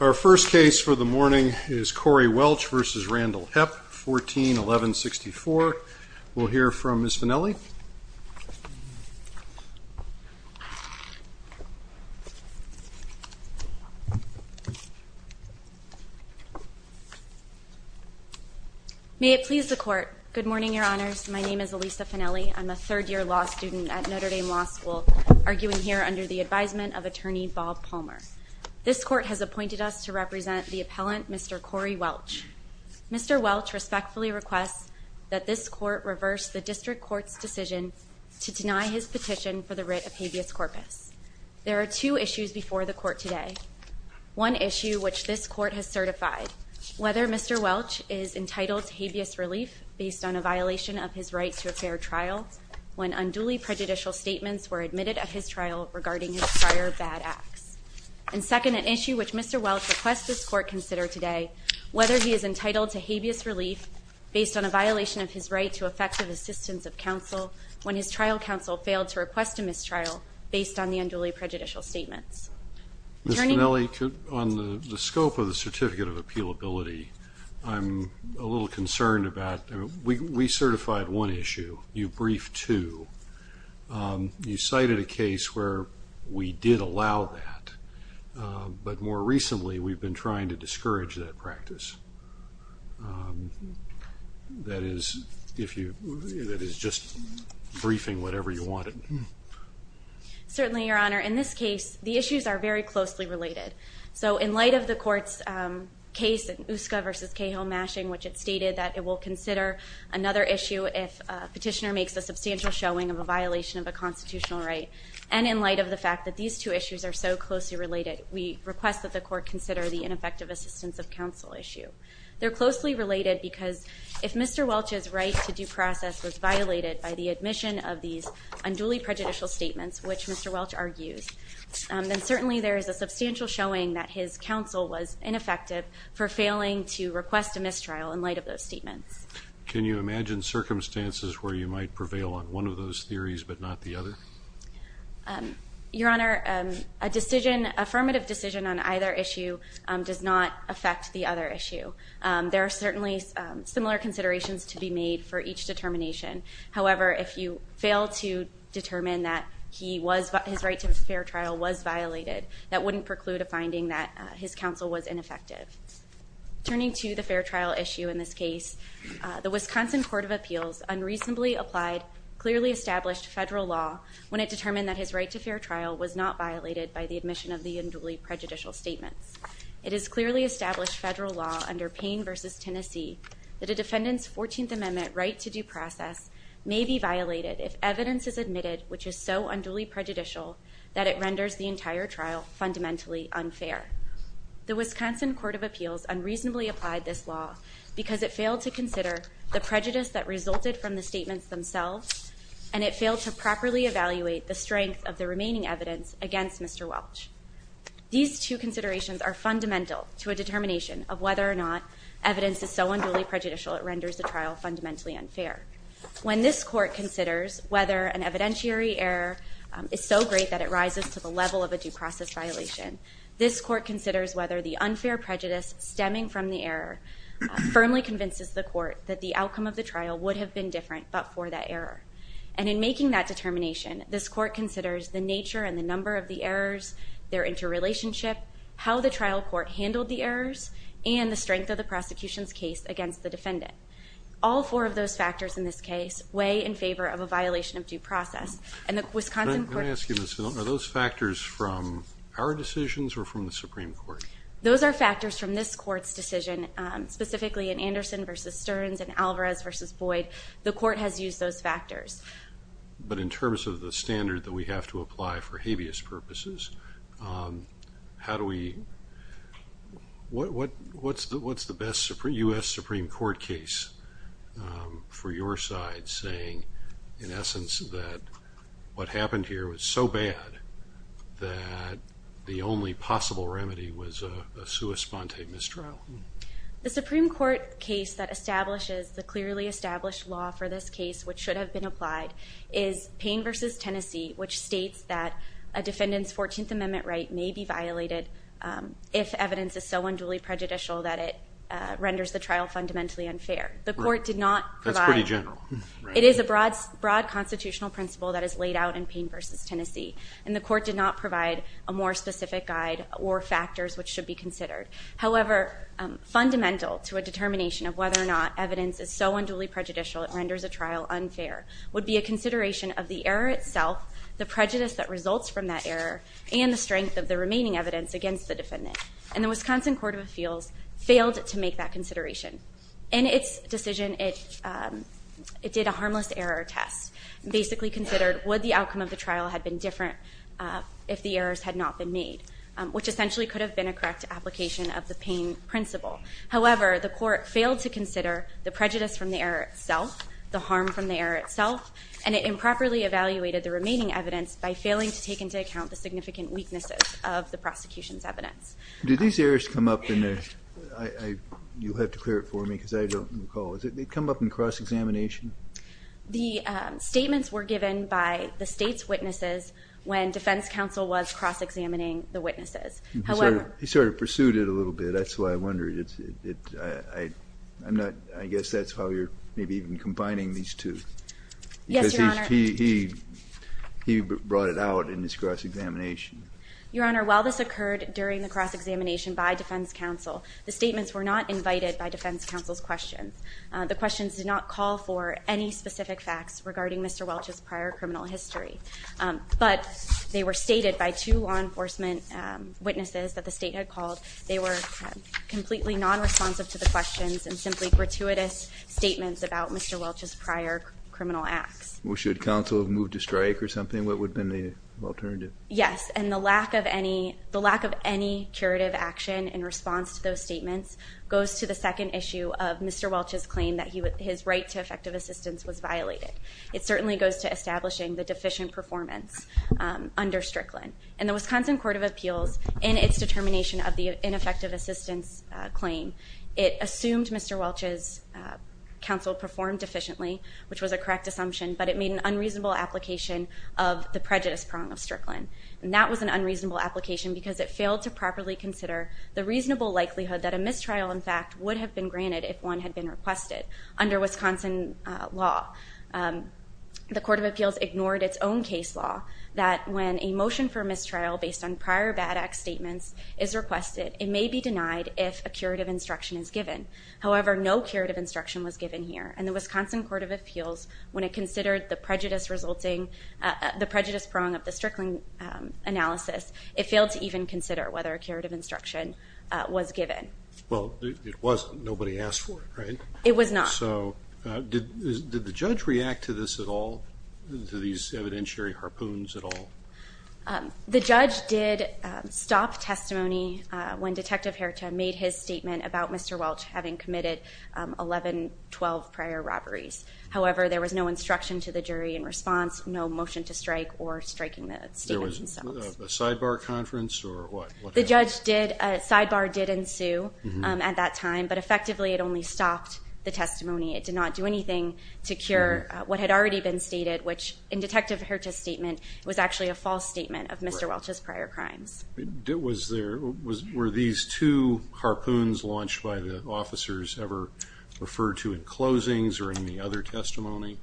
Our first case for the morning is Corey Welch v. Randall Hepp, 14-1164. We'll hear from Ms. Finelli. May it please the Court. Good morning, Your Honors. My name is Elisa Finelli. I'm a third-year law student at Notre Dame Law School, arguing here under the advisement of Attorney Bob Palmer. This Court has appointed us to represent the appellant, Mr. Corey Welch. Mr. Welch respectfully requests that this Court reverse the District Court's decision to deny his petition for the writ of habeas corpus. There are two issues before the Court today. One issue which this Court has certified. Whether Mr. Welch is entitled to habeas relief based on a violation of his right to a fair trial, when unduly prejudicial statements were admitted of his trial regarding his prior bad acts. And second, an issue which Mr. Welch requests this Court consider today, whether he is entitled to habeas relief based on a violation of his right to effective assistance of counsel when his trial counsel failed to request a mistrial based on the unduly prejudicial statements. Ms. Finelli, on the scope of the Certificate of Appealability, I'm a little concerned about, we certified one issue, you briefed two. You cited a case where we did allow that, but more recently we've been trying to discourage that practice. That is, if you, that is just briefing whatever you wanted. Certainly, Your Honor. In this case, the issues are very closely related. So in light of the Court's case in Uska v. Cahill mashing, which it stated that it will consider another issue if a petitioner makes a substantial showing of a violation of a constitutional right, and in light of the fact that these two issues are so closely related, we request that the Court consider the ineffective assistance of counsel issue. They're closely related because if Mr. Welch's right to due process was violated by the admission of these unduly prejudicial statements, which Mr. Welch argues, then certainly there is a substantial showing that his counsel was ineffective for failing to request a mistrial in light of those statements. Can you imagine circumstances where you might prevail on one of those theories but not the other? Your Honor, a decision, affirmative decision on either issue does not affect the other issue. There are certainly similar considerations to be made for each determination. However, if you fail to determine that his right to a fair trial was violated, that wouldn't preclude a finding that his counsel was ineffective. Turning to the fair trial issue in this case, the Wisconsin Court of Appeals unreasonably applied, clearly established federal law when it determined that his right to fair trial was not violated by the admission of the unduly prejudicial statements. It has clearly established federal law under Payne v. Tennessee that a defendant's 14th Amendment right to due process may be violated if evidence is admitted which is so unduly prejudicial that it renders the entire trial fundamentally unfair. The Wisconsin Court of Appeals unreasonably applied this law because it failed to consider the prejudice that resulted from the statements themselves and it failed to properly evaluate the strength of the remaining evidence against Mr. Welch. These two considerations are fundamental to a determination of whether or not evidence is so unduly prejudicial it renders the trial fundamentally unfair. When this court considers whether an evidentiary error is so great that it rises to the level of a due process violation, this court considers whether the unfair prejudice stemming from the error firmly convinces the court that the outcome of the trial would have been different but for that error. And in making that determination, this court considers the nature and the number of the errors, their interrelationship, how the trial court handled the errors, and the strength of the prosecution's case against the defendant. All four of those factors in this case weigh in favor of a violation of due process. Let me ask you this. Are those factors from our decisions or from the Supreme Court? Those are factors from this court's decision, specifically in Anderson v. Stearns and Alvarez v. Boyd. The court has used those factors. But in terms of the standard that we have to apply for habeas purposes, what's the best U.S. Supreme Court case for your side saying, in essence, that what happened here was so bad that the only possible remedy was a sua sponte mistrial? The Supreme Court case that establishes the clearly established law for this case, which should have been applied, is Payne v. Tennessee, which states that a defendant's 14th Amendment right may be violated if evidence is so unduly prejudicial that it renders the trial fundamentally unfair. That's pretty general. It is a broad constitutional principle that is laid out in Payne v. Tennessee, and the court did not provide a more specific guide or factors which should be considered. However, fundamental to a determination of whether or not evidence is so unduly prejudicial it renders a trial unfair would be a consideration of the error itself, the prejudice that results from that error, and the strength of the remaining evidence against the defendant. And the Wisconsin Court of Appeals failed to make that consideration. In its decision, it did a harmless error test, basically considered would the outcome of the trial have been different if the errors had not been made, which essentially could have been a correct application of the Payne principle. However, the court failed to consider the prejudice from the error itself, the harm from the error itself, and it improperly evaluated the remaining evidence by failing to take into account the significant weaknesses of the prosecution's evidence. Did these errors come up in the – you'll have to clear it for me because I don't recall. Did they come up in cross-examination? The statements were given by the State's witnesses when defense counsel was cross-examining the witnesses. He sort of pursued it a little bit. That's why I wondered. I guess that's how you're maybe even combining these two. Yes, Your Honor. Because he brought it out in his cross-examination. Your Honor, while this occurred during the cross-examination by defense counsel, the statements were not invited by defense counsel's questions. The questions did not call for any specific facts regarding Mr. Welch's prior criminal history. But they were stated by two law enforcement witnesses that the State had called. They were completely non-responsive to the questions and simply gratuitous statements about Mr. Welch's prior criminal acts. Should counsel have moved to strike or something? What would have been the alternative? Yes, and the lack of any curative action in response to those statements goes to the second issue of Mr. Welch's claim that his right to effective assistance was violated. It certainly goes to establishing the deficient performance under Strickland. In the Wisconsin Court of Appeals, in its determination of the ineffective assistance claim, it assumed Mr. Welch's counsel performed deficiently, which was a correct assumption, but it made an unreasonable application of the prejudice prong of Strickland. And that was an unreasonable application because it failed to properly consider the reasonable likelihood that a mistrial, in fact, would have been granted if one had been requested. Under Wisconsin law, the Court of Appeals ignored its own case law that when a motion for mistrial based on prior bad act statements is requested, it may be denied if a curative instruction is given. However, no curative instruction was given here. And the Wisconsin Court of Appeals, when it considered the prejudice resulting, the prejudice prong of the Strickland analysis, it failed to even consider whether a curative instruction was given. Well, it wasn't. Nobody asked for it, right? It was not. So did the judge react to this at all, to these evidentiary harpoons at all? The judge did stop testimony when Detective Herita made his statement about Mr. Welch having committed 11, 12 prior robberies. However, there was no instruction to the jury in response, no motion to strike or striking the statements themselves. There was a sidebar conference or what? The sidebar did ensue at that time, but effectively it only stopped the testimony. It did not do anything to cure what had already been stated, which in Detective Herita's statement was actually a false statement of Mr. Welch's prior crimes. Were these two harpoons launched by the officers ever referred to in closings or in any other testimony?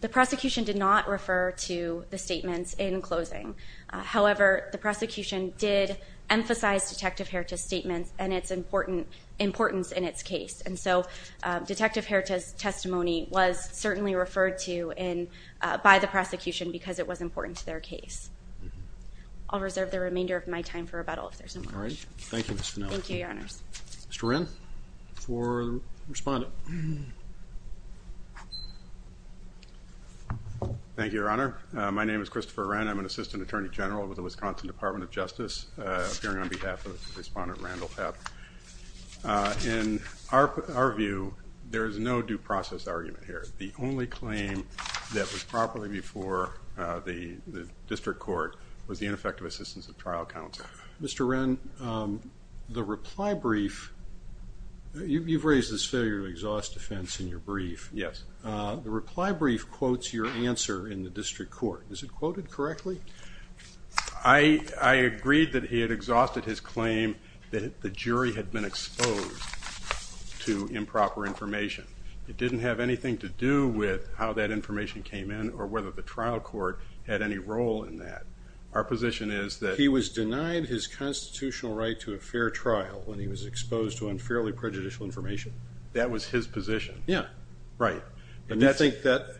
The prosecution did not refer to the statements in closing. However, the prosecution did emphasize Detective Herita's statements and its importance in its case. And so Detective Herita's testimony was certainly referred to by the prosecution because it was important to their case. I'll reserve the remainder of my time for rebuttal if there's any questions. All right. Thank you, Ms. Fennell. Thank you, Your Honors. Mr. Wren, for the respondent. Thank you, Your Honor. My name is Christopher Wren. I'm an Assistant Attorney General with the Wisconsin Department of Justice, appearing on behalf of Respondent Randall Pepp. In our view, there is no due process argument here. The only claim that was properly before the district court was the ineffective assistance of trial counsel. Mr. Wren, the reply brief, you've raised this failure to exhaust defense in your brief. Yes. The reply brief quotes your answer in the district court. Is it quoted correctly? I agreed that he had exhausted his claim that the jury had been exposed to improper information. It didn't have anything to do with how that information came in or whether the trial court had any role in that. Our position is that he was denied his constitutional right to a fair trial when he was exposed to unfairly prejudicial information. That was his position. Yes. Right. And you think that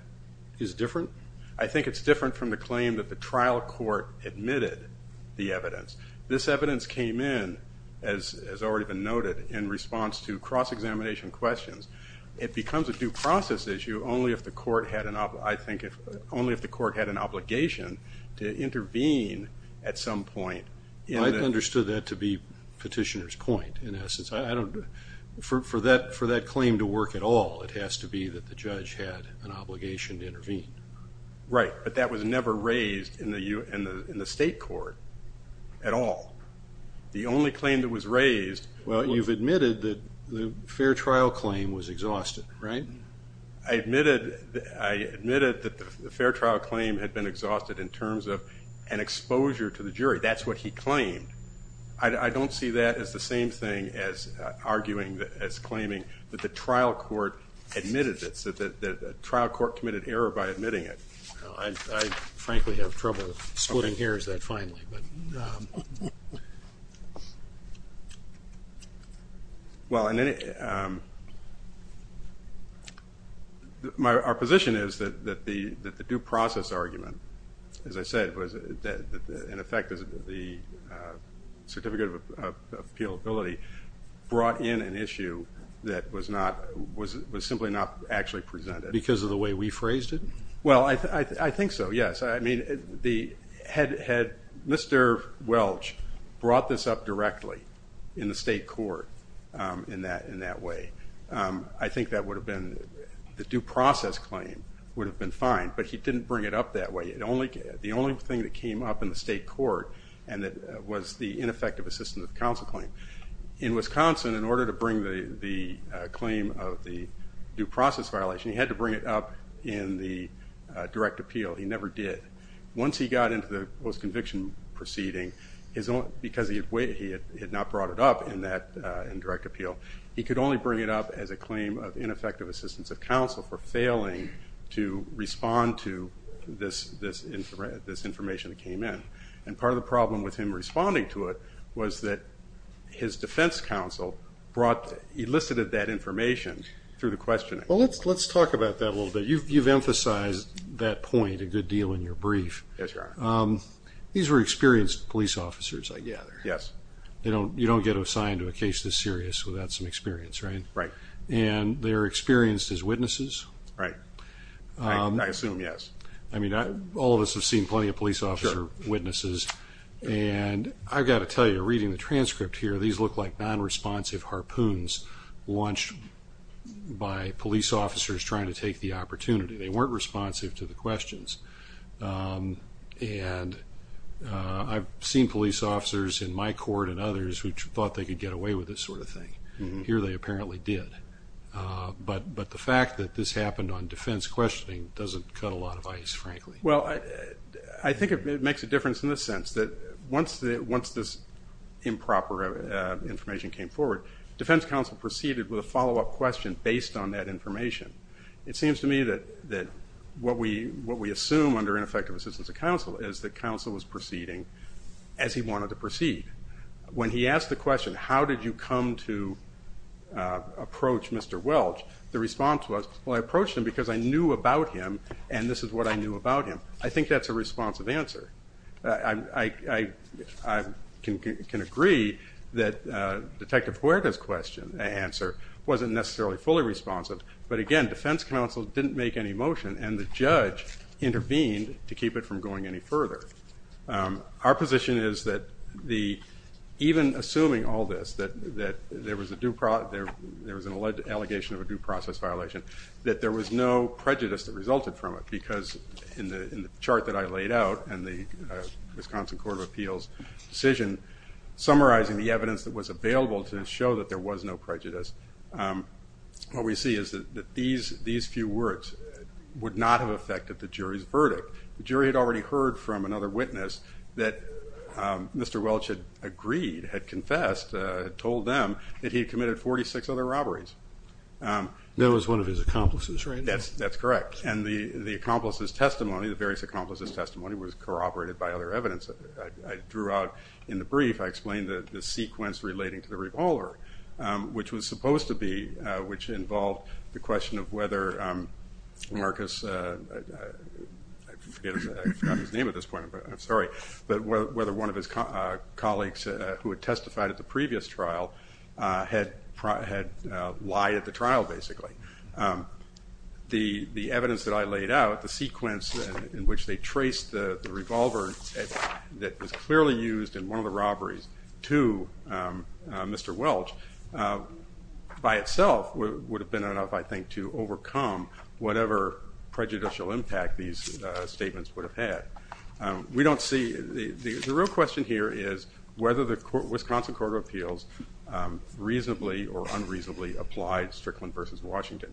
is different? I think it's different from the claim that the trial court admitted the evidence. This evidence came in, as already been noted, in response to cross-examination questions. It becomes a due process issue only if the court had an obligation to intervene at some point. I understood that to be Petitioner's point, in essence. For that claim to work at all, it has to be that the judge had an obligation to intervene. Right. But that was never raised in the state court at all. I admitted that the fair trial claim had been exhausted in terms of an exposure to the jury. That's what he claimed. I don't see that as the same thing as arguing, as claiming that the trial court admitted it, that the trial court committed error by admitting it. I frankly have trouble splitting hairs that finely. Well, our position is that the due process argument, as I said, was in effect the certificate of appealability brought in an issue that was simply not actually presented. Because of the way we phrased it? Well, I think so, yes. Had Mr. Welch brought this up directly in the state court in that way, I think the due process claim would have been fine. But he didn't bring it up that way. The only thing that came up in the state court was the ineffective assistance of the counsel claim. In Wisconsin, in order to bring the claim of the due process violation, he had to bring it up in the direct appeal. He never did. Once he got into the post-conviction proceeding, because he had not brought it up in direct appeal, he could only bring it up as a claim of ineffective assistance of counsel for failing to respond to this information that came in. And part of the problem with him responding to it was that his defense counsel elicited that information through the questioning. Well, let's talk about that a little bit. You've emphasized that point a good deal in your brief. Yes, Your Honor. These were experienced police officers, I gather. Yes. You don't get assigned to a case this serious without some experience, right? Right. And they're experienced as witnesses? Right. I assume, yes. I mean, all of us have seen plenty of police officer witnesses. And I've got to tell you, reading the transcript here, these look like non-responsive harpoons launched by police officers trying to take the opportunity. They weren't responsive to the questions. And I've seen police officers in my court and others who thought they could get away with this sort of thing. Here they apparently did. But the fact that this happened on defense questioning doesn't cut a lot of ice, frankly. Well, I think it makes a difference in the sense that once this improper information came forward, defense counsel proceeded with a follow-up question based on that information. It seems to me that what we assume under ineffective assistance of counsel is that counsel was proceeding as he wanted to proceed. When he asked the question, how did you come to approach Mr. Welch, the response was, well, I approached him because I knew about him and this is what I knew about him. I think that's a responsive answer. I can agree that Detective Huerta's answer wasn't necessarily fully responsive. But, again, defense counsel didn't make any motion and the judge intervened to keep it from going any further. Our position is that even assuming all this, that there was an allegation of a due process violation, that there was no prejudice that resulted from it because in the chart that I laid out and the Wisconsin Court of Appeals decision, summarizing the evidence that was available to show that there was no prejudice, what we see is that these few words would not have affected the jury's verdict. The jury had already heard from another witness that Mr. Welch had agreed, had confessed, had told them that he had committed 46 other robberies. That was one of his accomplices, right? That's correct. And the accomplice's testimony, the various accomplices' testimony, was corroborated by other evidence. I drew out in the brief, I explained the sequence relating to the revolver, which was supposed to be, which involved the question of whether Marcus, I forgot his name at this point, I'm sorry, but whether one of his colleagues who had testified at the previous trial had lied at the trial basically. The evidence that I laid out, the sequence in which they traced the revolver that was clearly used in one of the robberies to Mr. Welch, by itself would have been enough, I think, to overcome whatever prejudicial impact these statements would have had. We don't see, the real question here is whether the Wisconsin Court of Appeals reasonably or unreasonably applied Strickland v. Washington.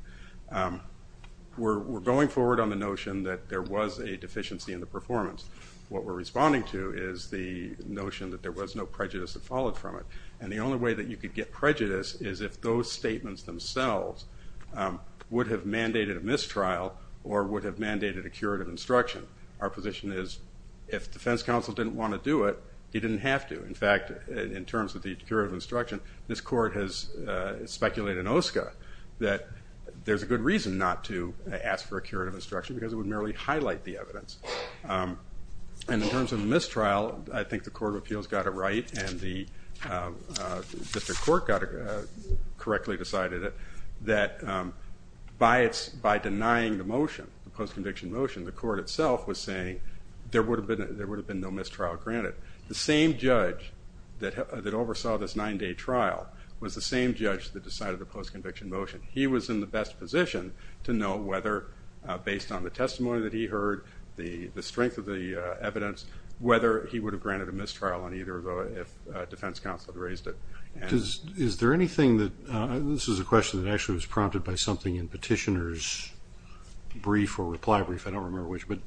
We're going forward on the notion that there was a deficiency in the performance. What we're responding to is the notion that there was no prejudice that followed from it. And the only way that you could get prejudice is if those statements themselves would have mandated a mistrial or would have mandated a curative instruction. Our position is if defense counsel didn't want to do it, he didn't have to. In fact, in terms of the curative instruction, this court has speculated in OSCA that there's a good reason not to ask for a curative instruction because it would merely highlight the evidence. And in terms of mistrial, I think the Court of Appeals got it right and the district court correctly decided that by denying the motion, the post-conviction motion, the court itself was saying there would have been no mistrial granted. The same judge that oversaw this nine-day trial was the same judge that decided the post-conviction motion. He was in the best position to know whether, based on the testimony that he heard, the strength of the evidence, whether he would have granted a mistrial on either of them if defense counsel had raised it. Is there anything that – this is a question that actually was prompted by something in Petitioner's brief or reply brief, I don't remember which, but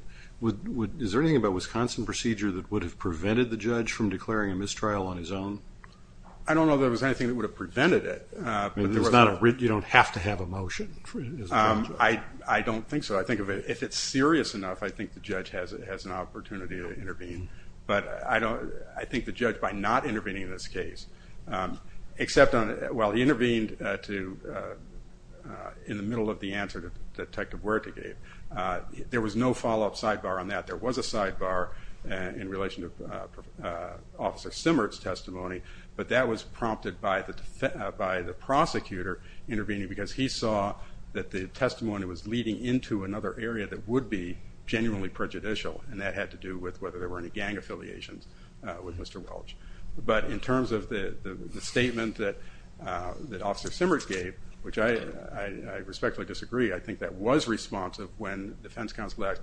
is there anything about Wisconsin procedure that would have prevented the judge from declaring a mistrial on his own? I don't know if there was anything that would have prevented it. You don't have to have a motion? I don't think so. I think if it's serious enough, I think the judge has an opportunity to intervene. But I think the judge, by not intervening in this case, except on – well, he intervened in the middle of the answer that Detective Werthe gave. There was no follow-up sidebar on that. There was a sidebar in relation to Officer Simmert's testimony, but that was prompted by the prosecutor intervening because he saw that the testimony was leading into another area that would be genuinely prejudicial, and that had to do with whether there were any gang affiliations with Mr. Welch. But in terms of the statement that Officer Simmert gave, which I respectfully disagree, I think that was responsive when the defense counsel asked,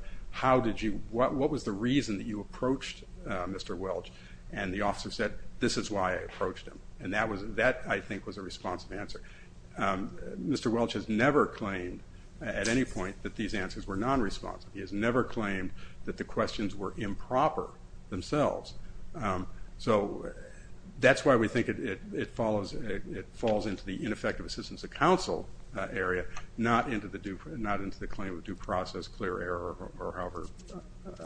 what was the reason that you approached Mr. Welch? And the officer said, this is why I approached him. And that, I think, was a responsive answer. Mr. Welch has never claimed at any point that these answers were nonresponsive. He has never claimed that the questions were improper themselves. So that's why we think it falls into the ineffective assistance of counsel area, not into the claim of due process, clear error, or however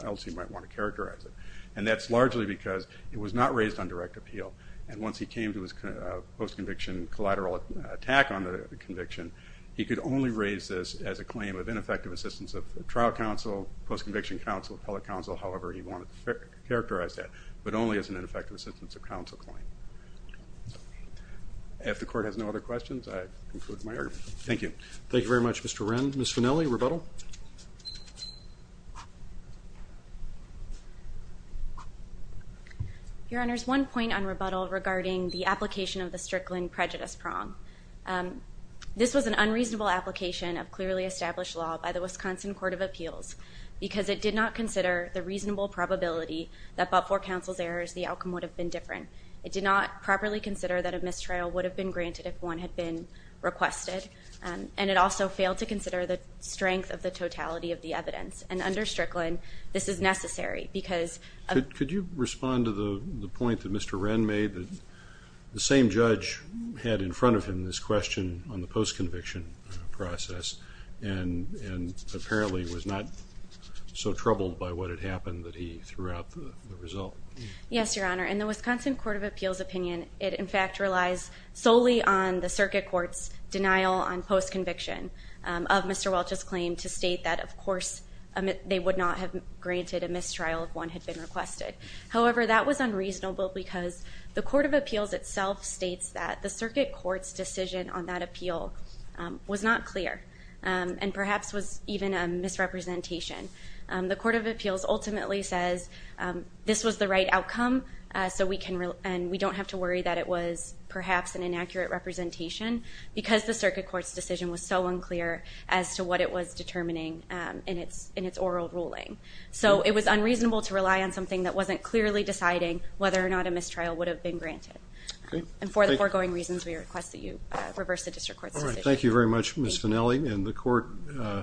else you might want to characterize it. And that's largely because it was not raised on direct appeal, and once he came to his post-conviction collateral attack on the conviction, he could only raise this as a claim of ineffective assistance of trial counsel, post-conviction counsel, appellate counsel, however he wanted to characterize that, but only as an ineffective assistance of counsel claim. If the Court has no other questions, I conclude my argument. Thank you. Thank you very much, Mr. Wren. Ms. Fanelli, rebuttal. Your Honor, there's one point on rebuttal regarding the application of the Strickland prejudice prong. This was an unreasonable application of clearly established law by the Wisconsin Court of Appeals because it did not consider the reasonable probability that but for counsel's errors, the outcome would have been different. It did not properly consider that a mistrial would have been granted if one had been requested, and it also failed to consider the strength of the totality of the evidence. And under Strickland, this is necessary because of the- Could you respond to the point that Mr. Wren made, that the same judge had in front of him this question on the post-conviction process and apparently was not so troubled by what had happened that he threw out the result? Yes, Your Honor. In the Wisconsin Court of Appeals opinion, it in fact relies solely on the circuit court's denial on post-conviction of Mr. Welch's claim to state that, of course, they would not have granted a mistrial if one had been requested. However, that was unreasonable because the Court of Appeals itself states that the circuit court's decision on that appeal was not clear and perhaps was even a misrepresentation. The Court of Appeals ultimately says this was the right outcome, and we don't have to worry that it was perhaps an inaccurate representation because the circuit court's decision was so unclear as to what it was determining in its oral ruling. So it was unreasonable to rely on something that wasn't clearly deciding whether or not a mistrial would have been granted. And for the foregoing reasons, we request that you reverse the district court's decision. All right. Thank you very much, Ms. Finnelli. And the court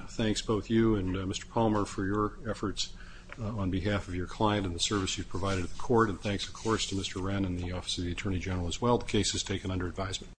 thanks both you and Mr. Palmer for your efforts on behalf of your client and the service you've provided to the court, and thanks, of course, to Mr. Wren and the Office of the Attorney General as well. The case is taken under advisement.